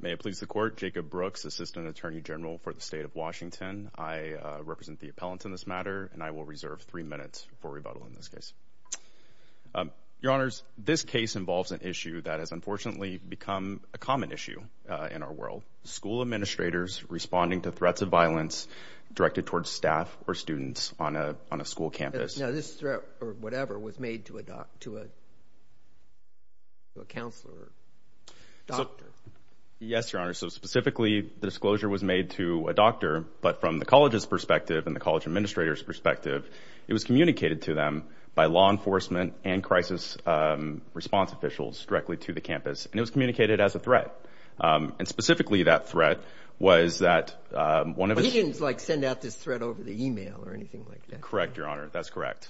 May it please the Court, Jacob Brooks, Assistant Attorney General for the State of Washington. I represent the appellants in this matter and I will reserve three minutes for rebuttal in this case. Your Honors, this case involves an issue that has unfortunately become a common issue in our world. School administrators responding to threats of violence directed towards staff or students on a school campus. Now, this threat, or whatever, was made to a counselor or doctor. Yes, Your Honor, so specifically, the disclosure was made to a doctor, but from the college's perspective and the college administrator's perspective, it was communicated to them by law enforcement and crisis response officials directly to the campus, and it was communicated as a threat. And specifically, that threat was that one of the... He didn't like send out this threat over the email or anything like that. You're correct, Your Honor, that's correct.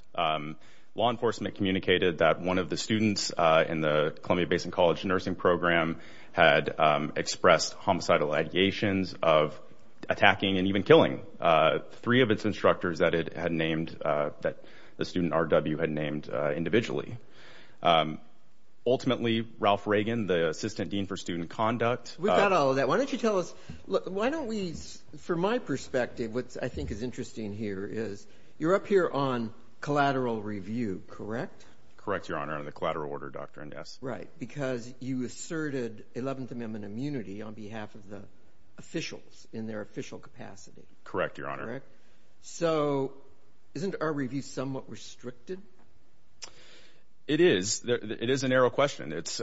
Law enforcement communicated that one of the students in the Columbia Basin College nursing program had expressed homicidal ideations of attacking and even killing three of its instructors that it had named, that the student R.W. had named individually. Ultimately, Ralph Reagan, the Assistant Dean for Student Conduct... We've got all of that. Why don't you tell us... Well, why don't we... For my perspective, what I think is interesting here is you're up here on collateral review, correct? Correct, Your Honor, under the collateral order doctrine, yes. Right, because you asserted 11th Amendment immunity on behalf of the officials in their official capacity. Correct, Your Honor. Correct? So isn't our review somewhat restricted? It is. It is a narrow question. It's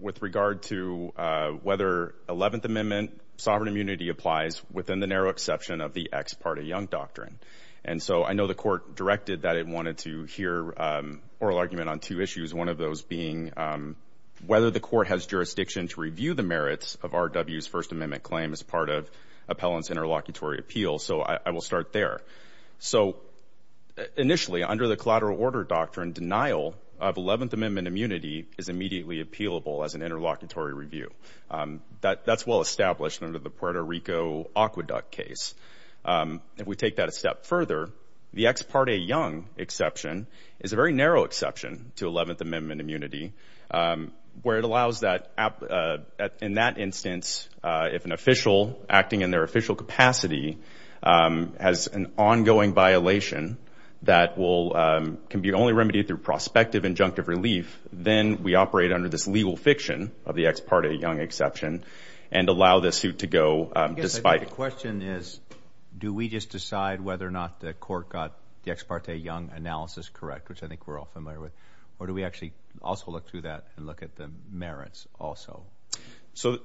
with regard to whether 11th Amendment sovereign immunity applies within the narrow exception of the ex parte Young Doctrine. And so I know the court directed that it wanted to hear an oral argument on two issues, one of those being whether the court has jurisdiction to review the merits of R.W.'s First Amendment claim as part of appellant's interlocutory appeal. So I will start there. So initially, under the collateral order doctrine, denial of 11th Amendment immunity is immediately appealable as an interlocutory review. That's well established under the Puerto Rico Aqueduct case. If we take that a step further, the ex parte Young exception is a very narrow exception to 11th Amendment immunity, where it allows that in that instance, if an official acting and their official capacity has an ongoing violation that can be only remedied through prospective injunctive relief, then we operate under this legal fiction of the ex parte Young exception and allow the suit to go despite it. I guess the question is, do we just decide whether or not the court got the ex parte Young analysis correct, which I think we're all familiar with, or do we actually also look through that and look at the merits also? So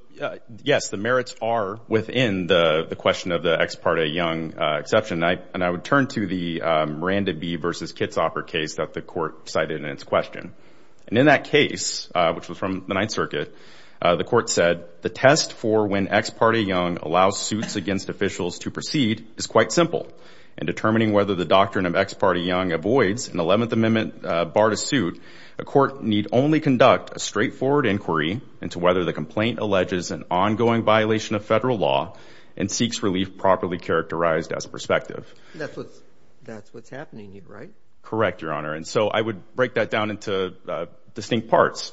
yes, the merits are within the question of the ex parte Young exception. And I would turn to the Miranda B. v. Kitzhoffer case that the court cited in its question. And in that case, which was from the Ninth Circuit, the court said, the test for when ex parte Young allows suits against officials to proceed is quite simple. In determining whether the doctrine of ex parte Young avoids an 11th Amendment bar to a suit, a court need only conduct a straightforward inquiry into whether the complaint alleges an ongoing violation of federal law and seeks relief properly characterized as prospective. That's what's happening here, right? Correct, Your Honor. And so I would break that down into distinct parts.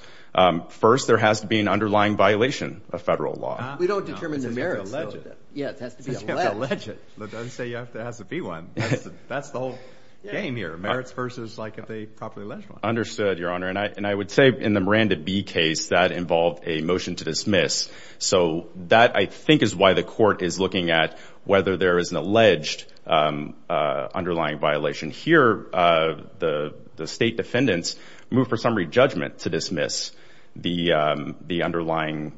First, there has to be an underlying violation of federal law. We don't determine the merits. It has to be alleged. Yeah, it has to be alleged. It doesn't say it has to be one. That's the whole game here. Merits versus if they properly alleged one. Understood, Your Honor. And I would say in the Miranda B. case, that involved a motion to dismiss. So that, I think, is why the court is looking at whether there is an alleged underlying violation. Here, the state defendants move for summary judgment to dismiss the underlying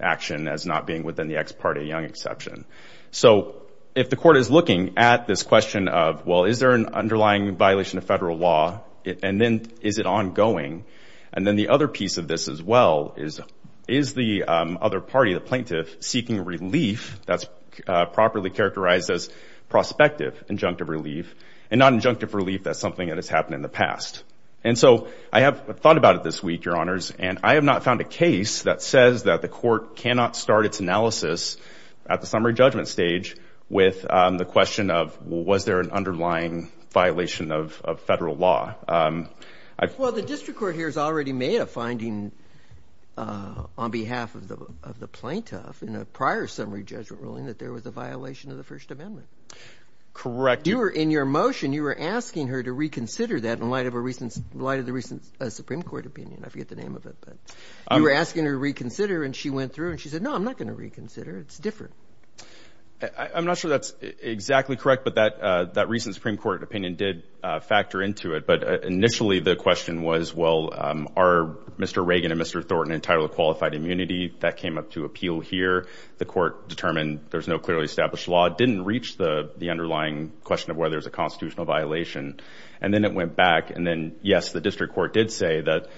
action as not being within the ex parte Young exception. So if the court is looking at this question of, well, is there an underlying violation of federal law, and then is it ongoing? And then the other piece of this as well is, is the other party, the plaintiff, seeking relief that's properly characterized as prospective injunctive relief and not injunctive relief as something that has happened in the past? And so I have thought about it this week, Your Honors, and I have not found a case that says that the court cannot start its analysis at the summary judgment stage with the question of, well, was there an underlying violation of federal law? Well, the district court here has already made a finding on behalf of the plaintiff in a prior summary judgment ruling that there was a violation of the First Amendment. Correct. In your motion, you were asking her to reconsider that in light of the recent Supreme Court opinion. I forget the name of it. You were asking her to reconsider, and she went through, and she said, no, I'm not going to reconsider. It's different. I'm not sure that's exactly correct, but that recent Supreme Court opinion did factor into it. But initially, the question was, well, are Mr. Reagan and Mr. Thornton entitled to qualified immunity? That came up to appeal here. The court determined there's no clearly established law. It didn't reach the underlying question of whether there's a constitutional violation. And then it went back, and then, yes, the district court did say that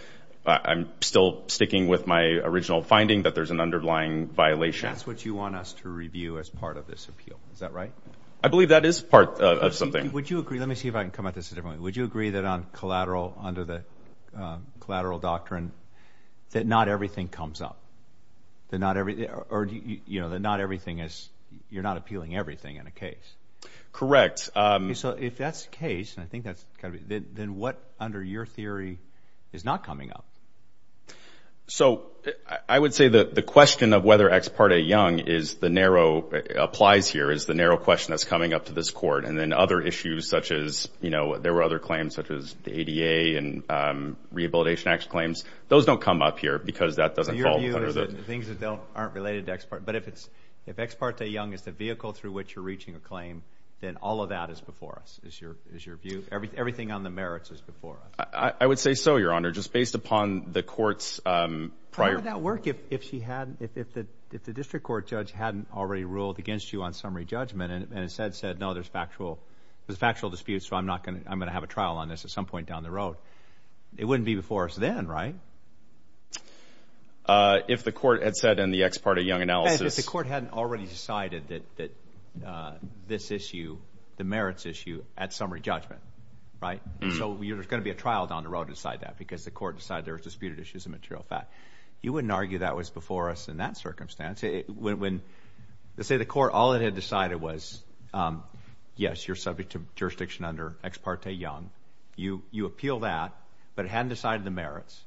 I'm still sticking with my original finding that there's an underlying violation. That's what you want us to review as part of this appeal. Is that right? I believe that is part of something. Would you agree? Let me see if I can come at this a different way. Would you agree that on collateral, under the collateral doctrine, that not everything comes up, that not everything, or that not everything is, you're not appealing everything in a case? Correct. So if that's the case, and I think that's kind of it, then what, under your theory, is not coming up? So I would say that the question of whether Ex Parte Young is the narrow, applies here, is the narrow question that's coming up to this court. And then other issues, such as, you know, there were other claims, such as the ADA and Rehabilitation Act claims. Those don't come up here, because that doesn't fall under the- Your view is that the things that aren't related to Ex Parte, but if it's, if Ex Parte Young is the vehicle through which you're reaching a claim, then all of that is before us, is your view? Everything on the merits is before us. I would say so, Your Honor, just based upon the court's prior- How would that work if she hadn't, if the district court judge hadn't already ruled against you on summary judgment, and instead said, no, there's factual disputes, so I'm not going to, I'm going to have a trial on this at some point down the road? It wouldn't be before us then, right? If the court had said in the Ex Parte Young analysis- That this issue, the merits issue, at summary judgment, right, so there's going to be a trial down the road to decide that, because the court decided there was disputed issues of material fact. You wouldn't argue that was before us in that circumstance. When, let's say the court, all it had decided was, yes, you're subject to jurisdiction under Ex Parte Young. You appeal that, but it hadn't decided the merits.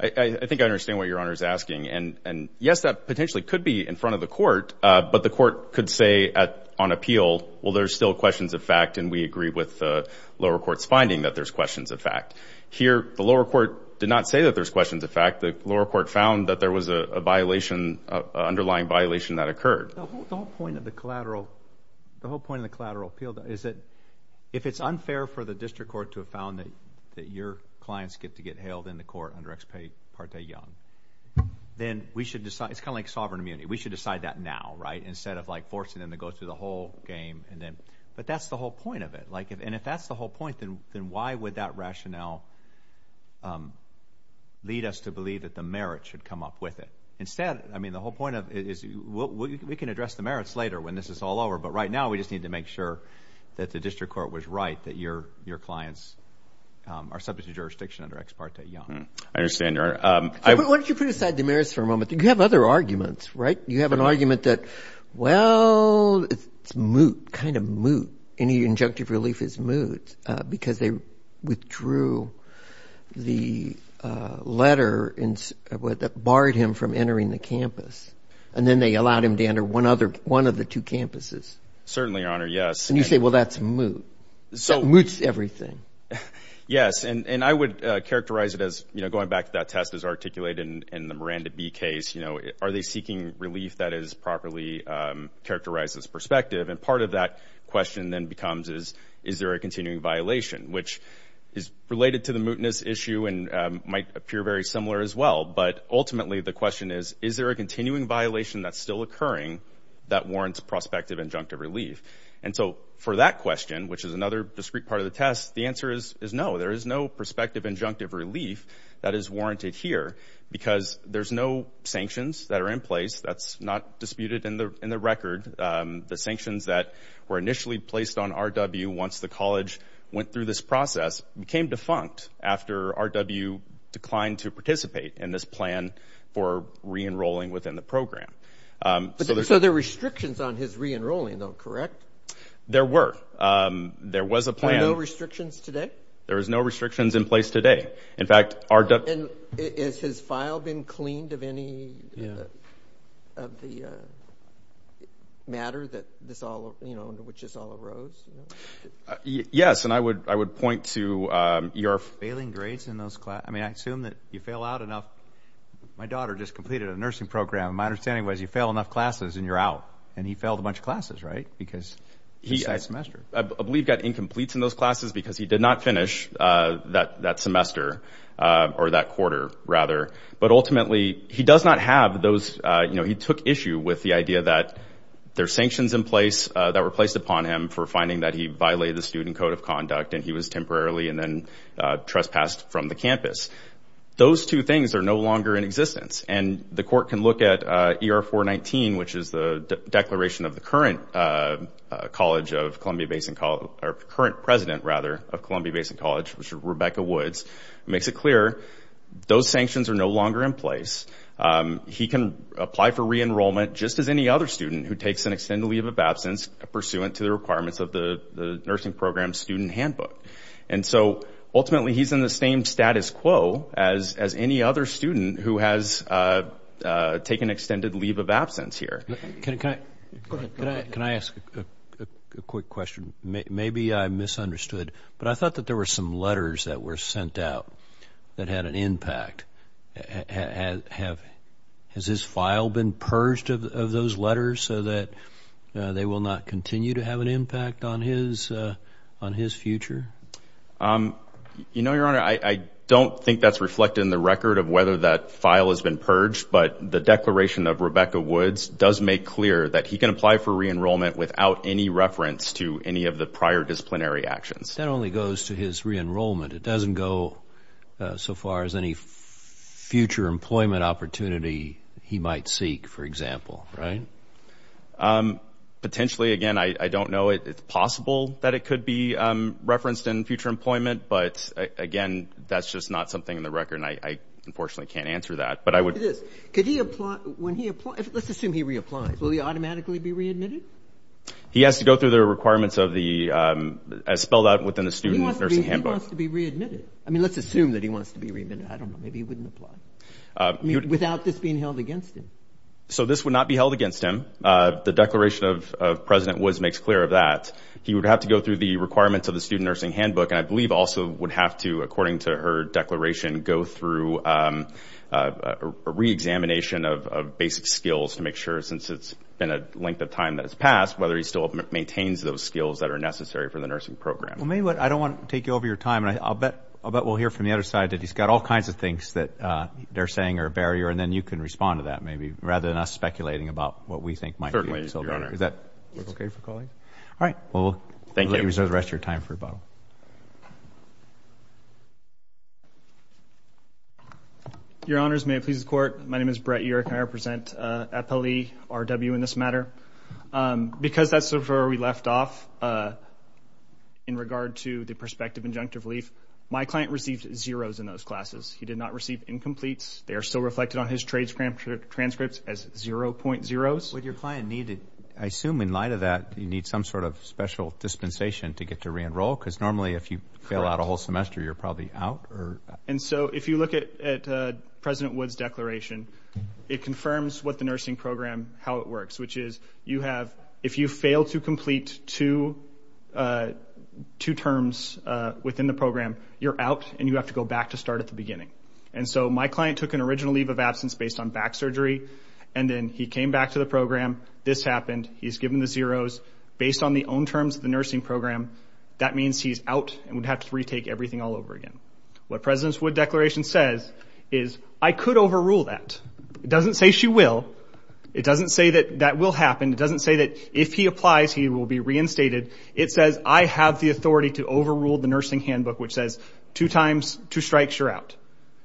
I think I understand what Your Honor is asking, and yes, that potentially could be in front of the court, but the court could say on appeal, well, there's still questions of fact, and we agree with the lower court's finding that there's questions of fact. Here, the lower court did not say that there's questions of fact. The lower court found that there was a violation, an underlying violation that occurred. The whole point of the collateral, the whole point of the collateral appeal is that if it's unfair for the district court to have found that your clients get to get hailed in the court under Ex Parte Young, then we should decide, it's kind of like sovereign immunity. We should decide that now, right? Instead of like forcing them to go through the whole game, but that's the whole point of it. And if that's the whole point, then why would that rationale lead us to believe that the merits should come up with it? Instead, I mean, the whole point of it is we can address the merits later when this is all over, but right now we just need to make sure that the district court was right, that your clients are subject to jurisdiction under Ex Parte Young. I understand, Your Honor. Why don't you put aside the merits for a moment? You have other arguments, right? You have an argument that, well, it's moot, kind of moot. Any injunctive relief is moot because they withdrew the letter that barred him from entering the campus. And then they allowed him to enter one of the two campuses. Certainly, Your Honor. Yes. And you say, well, that's moot. That moots everything. Yes. And I would characterize it as, you know, going back to that test as articulated in the Miranda B case, you know, are they seeking relief that is properly characterized as perspective? And part of that question then becomes, is there a continuing violation, which is related to the mootness issue and might appear very similar as well. But ultimately, the question is, is there a continuing violation that's still occurring that warrants prospective injunctive relief? And so for that question, which is another discrete part of the test, the answer is no. There is no prospective injunctive relief that is warranted here because there's no sanctions that are in place. That's not disputed in the record. The sanctions that were initially placed on RW once the college went through this process became defunct after RW declined to participate in this plan for re-enrolling within the program. So there were restrictions on his re-enrolling, though, correct? There were. There was a plan. Are there no restrictions today? There is no restrictions in place today. In fact, RW... And has his file been cleaned of any of the matter that this all, you know, which this all arose? Yes. And I would, I would point to your... Failing grades in those classes. I mean, I assume that you fail out enough. My daughter just completed a nursing program. My understanding was you fail enough classes and you're out. And he failed a bunch of classes, right? Because he's a semester. I believe got incompletes in those classes because he did not finish that semester or that quarter, rather. But ultimately, he does not have those, you know, he took issue with the idea that there are sanctions in place that were placed upon him for finding that he violated the student code of conduct and he was temporarily and then trespassed from the campus. Those two things are no longer in existence. And the court can look at ER-419, which is the declaration of the current College of or current president, rather, of Columbia Basin College, which is Rebecca Woods, makes it clear those sanctions are no longer in place. He can apply for re-enrollment just as any other student who takes an extended leave of absence pursuant to the requirements of the nursing program student handbook. And so, ultimately, he's in the same status quo as any other student who has taken extended leave of absence here. Can I ask a quick question? Maybe I misunderstood, but I thought that there were some letters that were sent out that had an impact. Has his file been purged of those letters so that they will not continue to have an impact on his future? You know, Your Honor, I don't think that's reflected in the record of whether that file has been purged, but the declaration of Rebecca Woods does make clear that he can apply for re-enrollment without any reference to any of the prior disciplinary actions. That only goes to his re-enrollment. It doesn't go so far as any future employment opportunity he might seek, for example, right? Potentially, again, I don't know. It's possible that it could be referenced in future employment, but, again, that's just not something in the record. And I, unfortunately, can't answer that. But I would... Look at this. Could he apply... Let's assume he reapplies. Will he automatically be readmitted? He has to go through the requirements of the, as spelled out within the student nursing handbook. He wants to be readmitted. I mean, let's assume that he wants to be readmitted. I don't know. Maybe he wouldn't apply without this being held against him. So this would not be held against him. The declaration of President Woods makes clear of that. He would have to go through the requirements of the student nursing handbook, and I believe also would have to, according to her declaration, go through a re-examination of basic skills to make sure, since it's been a length of time that has passed, whether he still maintains those skills that are necessary for the nursing program. Well, maybe what... I don't want to take over your time. I'll bet we'll hear from the other side that he's got all kinds of things that they're saying are a barrier, and then you can respond to that, maybe, rather than us speculating about what we think might be. Certainly, Your Honor. Is that okay for colleagues? Yes. All right. Thank you. Thank you. You may reserve the rest of your time for rebuttal. Your Honors, may it please the Court, my name is Brett Urick, and I represent FLE, RW in this matter. Because that's where we left off in regard to the prospective injunctive relief, my client received zeroes in those classes. He did not receive incompletes. They are still reflected on his trade transcripts as 0.0s. Would your client need to... I assume, in light of that, you need some sort of special dispensation to get to re-enroll? Because normally, if you fail out a whole semester, you're probably out or... And so, if you look at President Wood's declaration, it confirms what the nursing program... how it works, which is you have... if you fail to complete two terms within the program, you're out, and you have to go back to start at the beginning. And so, my client took an original leave of absence based on back surgery, and then he came back to the program. This happened. He's given the zeroes. Based on the own terms of the nursing program, that means he's out and would have to retake everything all over again. What President Wood's declaration says is, I could overrule that. It doesn't say she will. It doesn't say that that will happen. It doesn't say that if he applies, he will be reinstated. It says, I have the authority to overrule the nursing handbook, which says, two times,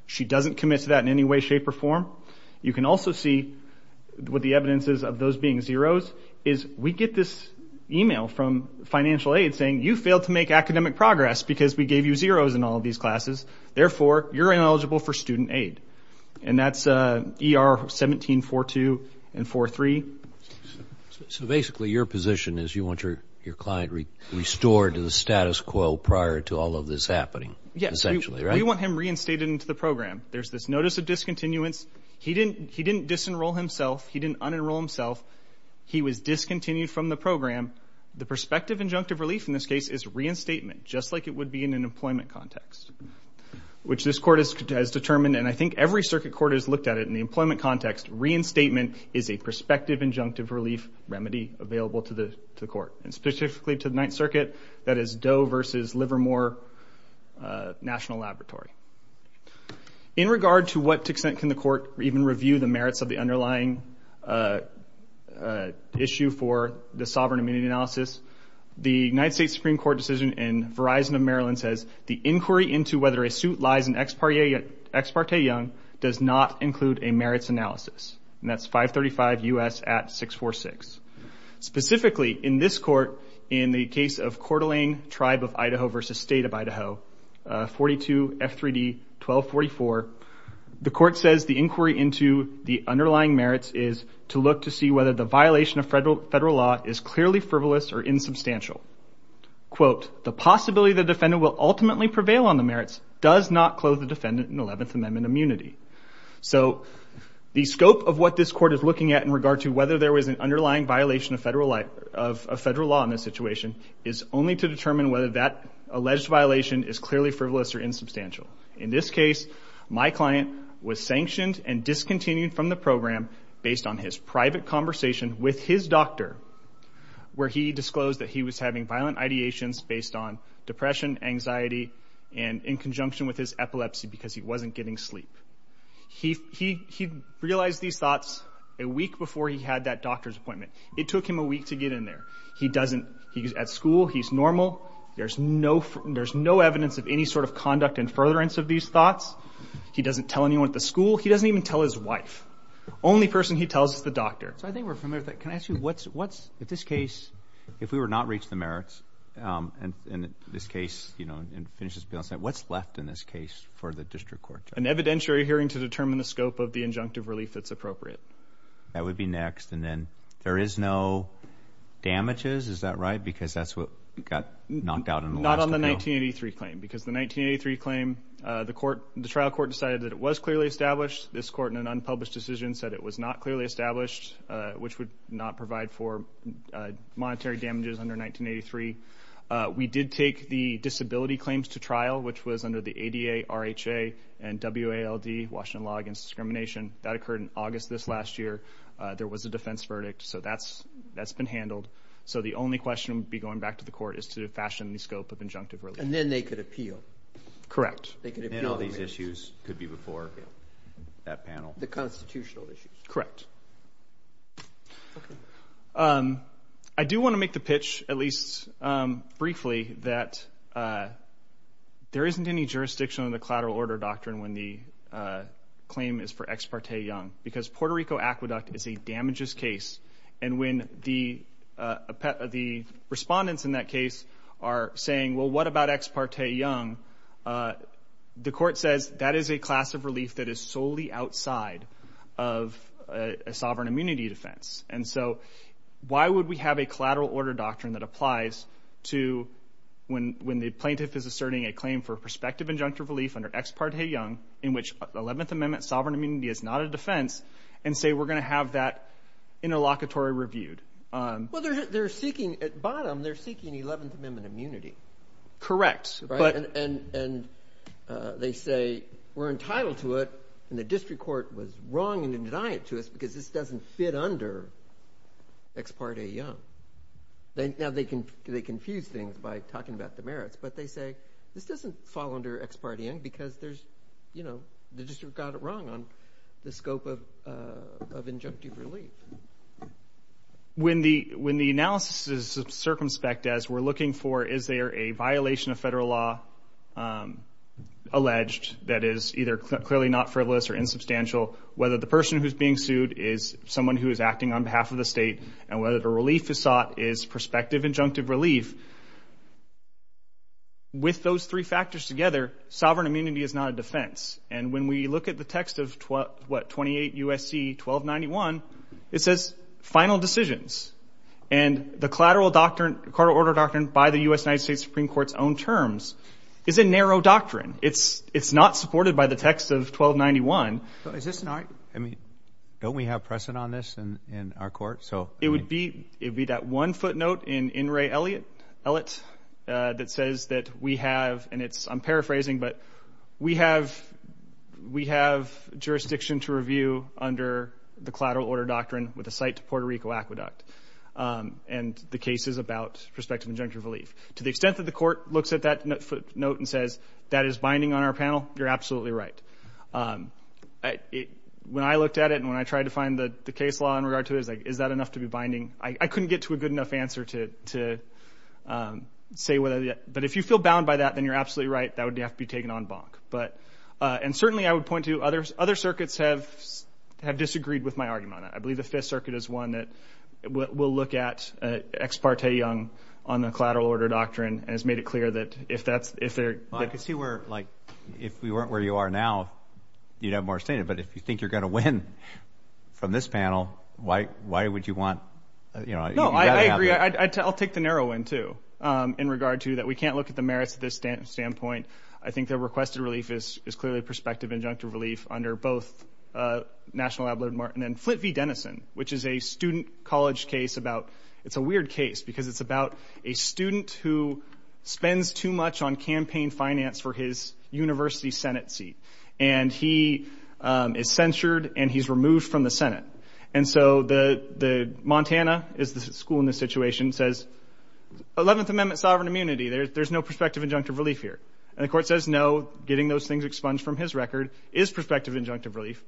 She doesn't commit to that in any way, shape, or form. You can also see what the evidence is of those being zeroes, is we get this email from financial aid saying, you failed to make academic progress because we gave you zeroes in all of these classes. Therefore, you're ineligible for student aid. And that's ER 1742 and 43. So basically, your position is you want your client restored to the status quo prior to all of this happening. Yes. Essentially, right? We want him reinstated into the program. There's this notice of discontinuance. He didn't disenroll himself. He didn't unenroll himself. He was discontinued from the program. The prospective injunctive relief in this case is reinstatement, just like it would be in an employment context, which this court has determined. And I think every circuit court has looked at it in the employment context. Reinstatement is a prospective injunctive relief remedy available to the court, and specifically to the Ninth Circuit, that is Doe versus Livermore National Laboratory. In regard to what extent can the court even review the merits of the underlying issue for the sovereign immunity analysis, the United States Supreme Court decision in Verizon of Maryland says, the inquiry into whether a suit lies in Ex parte Young does not include a merits analysis. And that's 535 U.S. at 646. Specifically, in this court, in the case of Coeur d'Alene Tribe of Idaho versus State of Idaho, 42 F3D 1244, the court says the inquiry into the underlying merits is to look to see whether the violation of federal law is clearly frivolous or insubstantial. The possibility the defendant will ultimately prevail on the merits does not clothe the defendant in 11th Amendment immunity. So the scope of what this court is looking at in regard to whether there was an underlying violation of federal law in this situation is only to determine whether that alleged violation is clearly frivolous or insubstantial. In this case, my client was sanctioned and discontinued from the program based on his private conversation with his doctor where he disclosed that he was having violent ideations based on depression, anxiety, and in conjunction with his epilepsy because he wasn't getting sleep. He realized these thoughts a week before he had that doctor's appointment. It took him a week to get in there. He doesn't. He's at school. He's normal. There's no evidence of any sort of conduct and furtherance of these thoughts. He doesn't tell anyone at the school. He doesn't even tell his wife. Only person he tells is the doctor. So I think we're familiar with that. Can I ask you, what's, in this case, if we were not to reach the merits in this case, you know, and finish this balance, what's left in this case for the district court? An evidentiary hearing to determine the scope of the injunctive relief that's appropriate. That would be next. And then there is no damages, is that right? Because that's what got knocked out in the last appeal. Not on the 1983 claim because the 1983 claim, the trial court decided that it was clearly established. This court, in an unpublished decision, said it was not clearly established, which would not provide for monetary damages under 1983. We did take the disability claims to trial, which was under the ADA, RHA, and WALD, Washington Law Against Discrimination. That occurred in August of this last year. There was a defense verdict. So that's been handled. So the only question would be going back to the court is to fashion the scope of injunctive relief. And then they could appeal. Correct. Then all these issues could be before that panel. The constitutional issues. Correct. Okay. I do want to make the pitch, at least briefly, that there isn't any jurisdiction on the collateral order doctrine when the claim is for Ex Parte Young. Because Puerto Rico Aqueduct is a damages case. And when the respondents in that case are saying, well, what about Ex Parte Young? The court says that is a class of relief that is solely outside of a sovereign immunity defense. And so why would we have a collateral order doctrine that applies to when the plaintiff is asserting a claim for prospective injunctive relief under Ex Parte Young, in which 11th Amendment sovereign immunity is not a defense, and say we're going to have that interlocutory reviewed? Well, they're seeking, at bottom, they're seeking 11th Amendment immunity. Correct. And they say, we're entitled to it, and the district court was wrong in denying it to us because this doesn't fit under Ex Parte Young. Now, they confuse things by talking about the merits, but they say, this doesn't fall under Ex Parte Young because the district got it wrong on the scope of injunctive relief. So, when the analysis is circumspect as we're looking for, is there a violation of federal law alleged that is either clearly not frivolous or insubstantial, whether the person who's being sued is someone who is acting on behalf of the state, and whether the relief is sought is prospective injunctive relief. With those three factors together, sovereign immunity is not a defense. And when we look at the text of what, 28 U.S.C. 1291, it says final decisions. And the collateral order doctrine by the U.S. United States Supreme Court's own terms is a narrow doctrine. It's not supported by the text of 1291. Is this an argument? I mean, don't we have precedent on this in our court, so? It would be that one footnote in In Re Elliot, that says that we have, and it's, I'm paraphrasing, but we have jurisdiction to review under the collateral order doctrine with a site to Puerto Rico aqueduct, and the case is about prospective injunctive relief. To the extent that the court looks at that footnote and says, that is binding on our panel, you're absolutely right. When I looked at it, and when I tried to find the case law in regard to it, is that enough to be binding? I couldn't get to a good enough answer to say whether, but if you feel bound by that, then you're absolutely right. That would have to be taken on bonk. And certainly, I would point to other circuits have disagreed with my argument on that. I believe the Fifth Circuit is one that will look at Ex Parte Young on the collateral order doctrine and has made it clear that if that's, if they're, Well, I could see where, like, if we weren't where you are now, you'd have more standing. But if you think you're going to win from this panel, why would you want, you know, No, I agree. I'll take the narrow end, too, in regard to that we can't look at the merits of this standpoint. I think the requested relief is clearly prospective injunctive relief under both National Abloh and Martin. And Flint v. Denison, which is a student college case about, it's a weird case because it's about a student who spends too much on campaign finance for his university Senate seat. And he is censured and he's removed from the Senate. And so the Montana, is the school in this situation, says 11th Amendment sovereign immunity. There's no prospective injunctive relief here. And the court says no, getting those things expunged from his record is prospective injunctive relief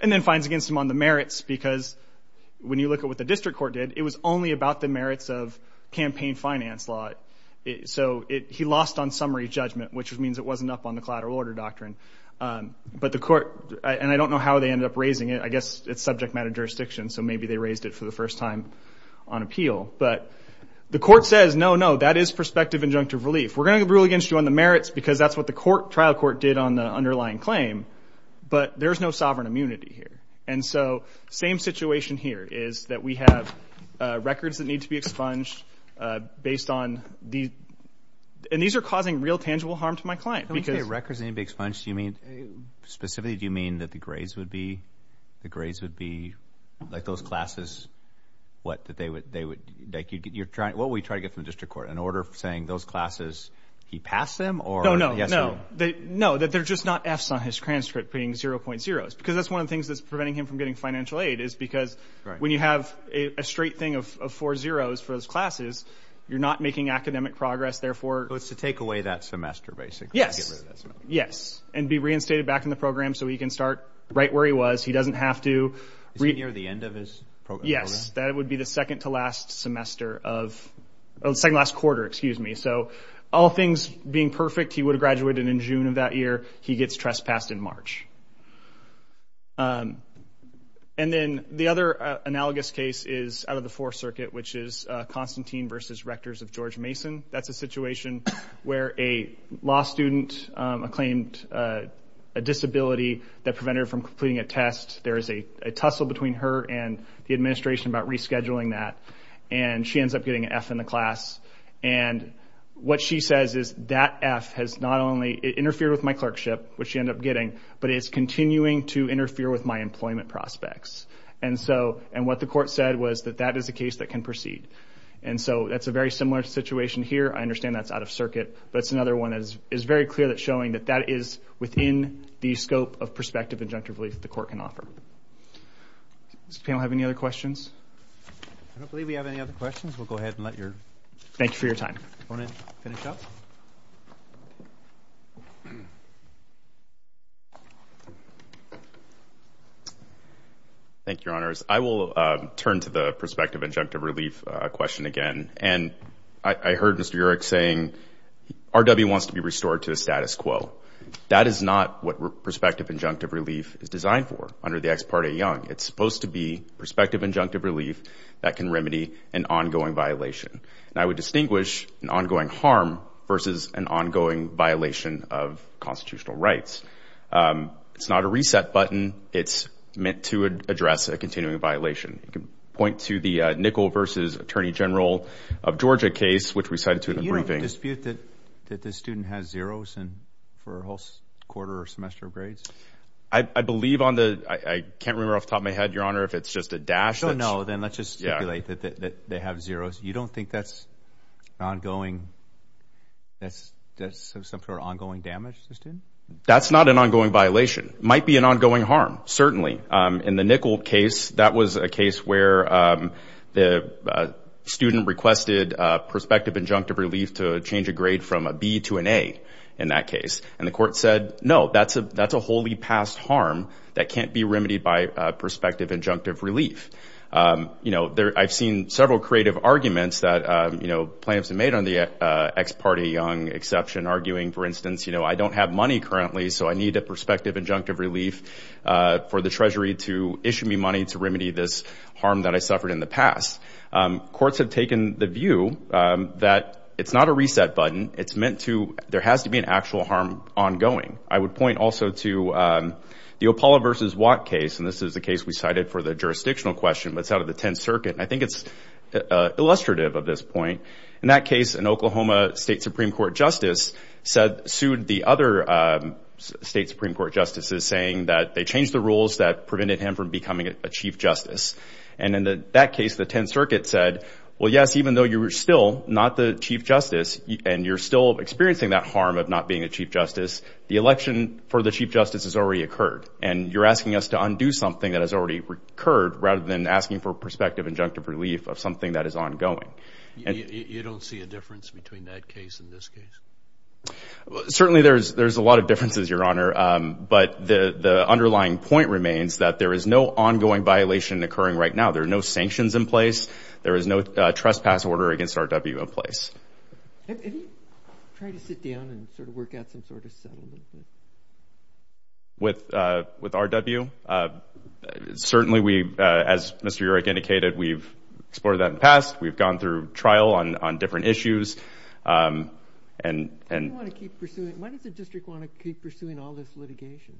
and then finds against him on the merits because when you look at what the district court did, it was only about the merits of campaign finance law. So he lost on summary judgment, which means it wasn't up on the collateral order doctrine. But the court, and I don't know how they ended up raising it. I guess it's subject matter jurisdiction, so maybe they raised it for the first time on appeal. But the court says, no, no, that is prospective injunctive relief. We're going to rule against you on the merits because that's what the trial court did on the underlying claim. But there's no sovereign immunity here. And so same situation here is that we have records that need to be expunged based on these. And these are causing real tangible harm to my client because- Specifically, do you mean that the grades would be, the grades would be like those classes, what we try to get from the district court, an order saying those classes, he passed them or- No, no, no. No, that they're just not Fs on his transcript being 0.0s because that's one of the things that's preventing him from getting financial aid is because when you have a straight thing of four zeroes for those classes, you're not making academic progress, therefore- So it's to take away that semester, basically. Yes. Yes. And be reinstated back in the program so he can start right where he was. He doesn't have to- Is it near the end of his program? Yes. That would be the second to last semester of, second to last quarter, excuse me. So all things being perfect, he would have graduated in June of that year. He gets trespassed in March. And then the other analogous case is out of the Fourth Circuit, which is Constantine versus Rectors of George Mason. That's a situation where a law student acclaimed a disability that prevented her from completing a test. There is a tussle between her and the administration about rescheduling that. And she ends up getting an F in the class. And what she says is that F has not only interfered with my clerkship, which she ended up getting, but it's continuing to interfere with my employment prospects. And so, and what the court said was that that is a case that can proceed. And so, that's a very similar situation here. I understand that's out of circuit, but it's another one that is very clear that's showing that that is within the scope of prospective injunctive relief the court can offer. Does the panel have any other questions? I don't believe we have any other questions. We'll go ahead and let your- Thank you for your time. Do you want to finish up? Thank you, Your Honors. I will turn to the prospective injunctive relief question again. And I heard Mr. Yerrick saying RW wants to be restored to the status quo. That is not what prospective injunctive relief is designed for under the Ex Parte Young. It's supposed to be prospective injunctive relief that can remedy an ongoing violation. And I would distinguish an ongoing harm versus an ongoing violation of constitutional rights. It's not a reset button. It's meant to address a continuing violation. You can point to the Nickel versus Attorney General of Georgia case, which we cited to in the briefing. Do you have a dispute that the student has zeros for a whole quarter or semester of grades? I believe on the- I can't remember off the top of my head, Your Honor, if it's just a dash that's- Oh, no. Then let's just stipulate that they have zeros. You don't think that's an ongoing- that's some sort of ongoing damage to the student? That's not an ongoing violation. It might be an ongoing harm, certainly. In the Nickel case, that was a case where the student requested prospective injunctive relief to change a grade from a B to an A in that case. And the court said, no, that's a wholly passed harm that can't be remedied by prospective injunctive relief. I've seen several creative arguments that plaintiffs have made on the Ex Parte Young exception, arguing, for instance, I don't have money currently, so I need a prospective injunctive relief for the Treasury to issue me money to remedy this harm that I suffered in the past. Courts have taken the view that it's not a reset button. It's meant to- there has to be an actual harm ongoing. I would point also to the Opala versus Watt case, and this is the case we cited for the jurisdictional question, but it's out of the 10th Circuit, and I think it's illustrative of this point. In that case, an Oklahoma state Supreme Court justice said- sued the other state Supreme Court justices saying that they changed the rules that prevented him from becoming a chief justice. And in that case, the 10th Circuit said, well, yes, even though you're still not the chief justice and you're still experiencing that harm of not being a chief justice, the election for the chief justice has already occurred, and you're asking us to undo something that has already occurred rather than asking for prospective injunctive relief of something that is ongoing. You don't see a difference between that case and this case? Certainly, there's a lot of differences, Your Honor, but the underlying point remains that there is no ongoing violation occurring right now. There are no sanctions in place. There is no trespass order against RW in place. Have you tried to sit down and sort of work out some sort of settlement? With RW? Certainly, we- as Mr. Urick indicated, we've explored that in the past. We've gone through trial on different issues. And- Why does the district want to keep pursuing all this litigation?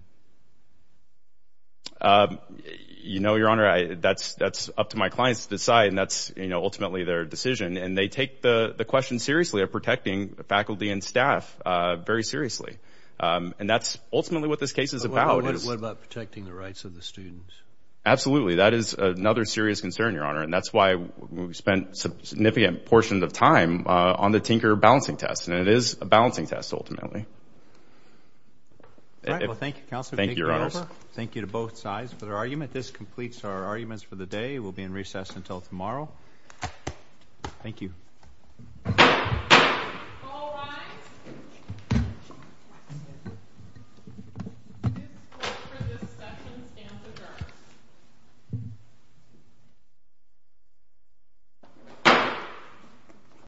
You know, Your Honor, that's up to my clients to decide, and that's, you know, ultimately their decision. And they take the question seriously of protecting the faculty and staff very seriously. And that's ultimately what this case is about. What about protecting the rights of the students? Absolutely. That is another serious concern, Your Honor. And that's why we spent significant portions of time on the Tinker balancing test. And it is a balancing test, ultimately. All right. Well, thank you, Counselor. Thank you, Your Honor. Thank you to both sides for their argument. This completes our arguments for the day. We'll be in recess until tomorrow. Thank you. All rise.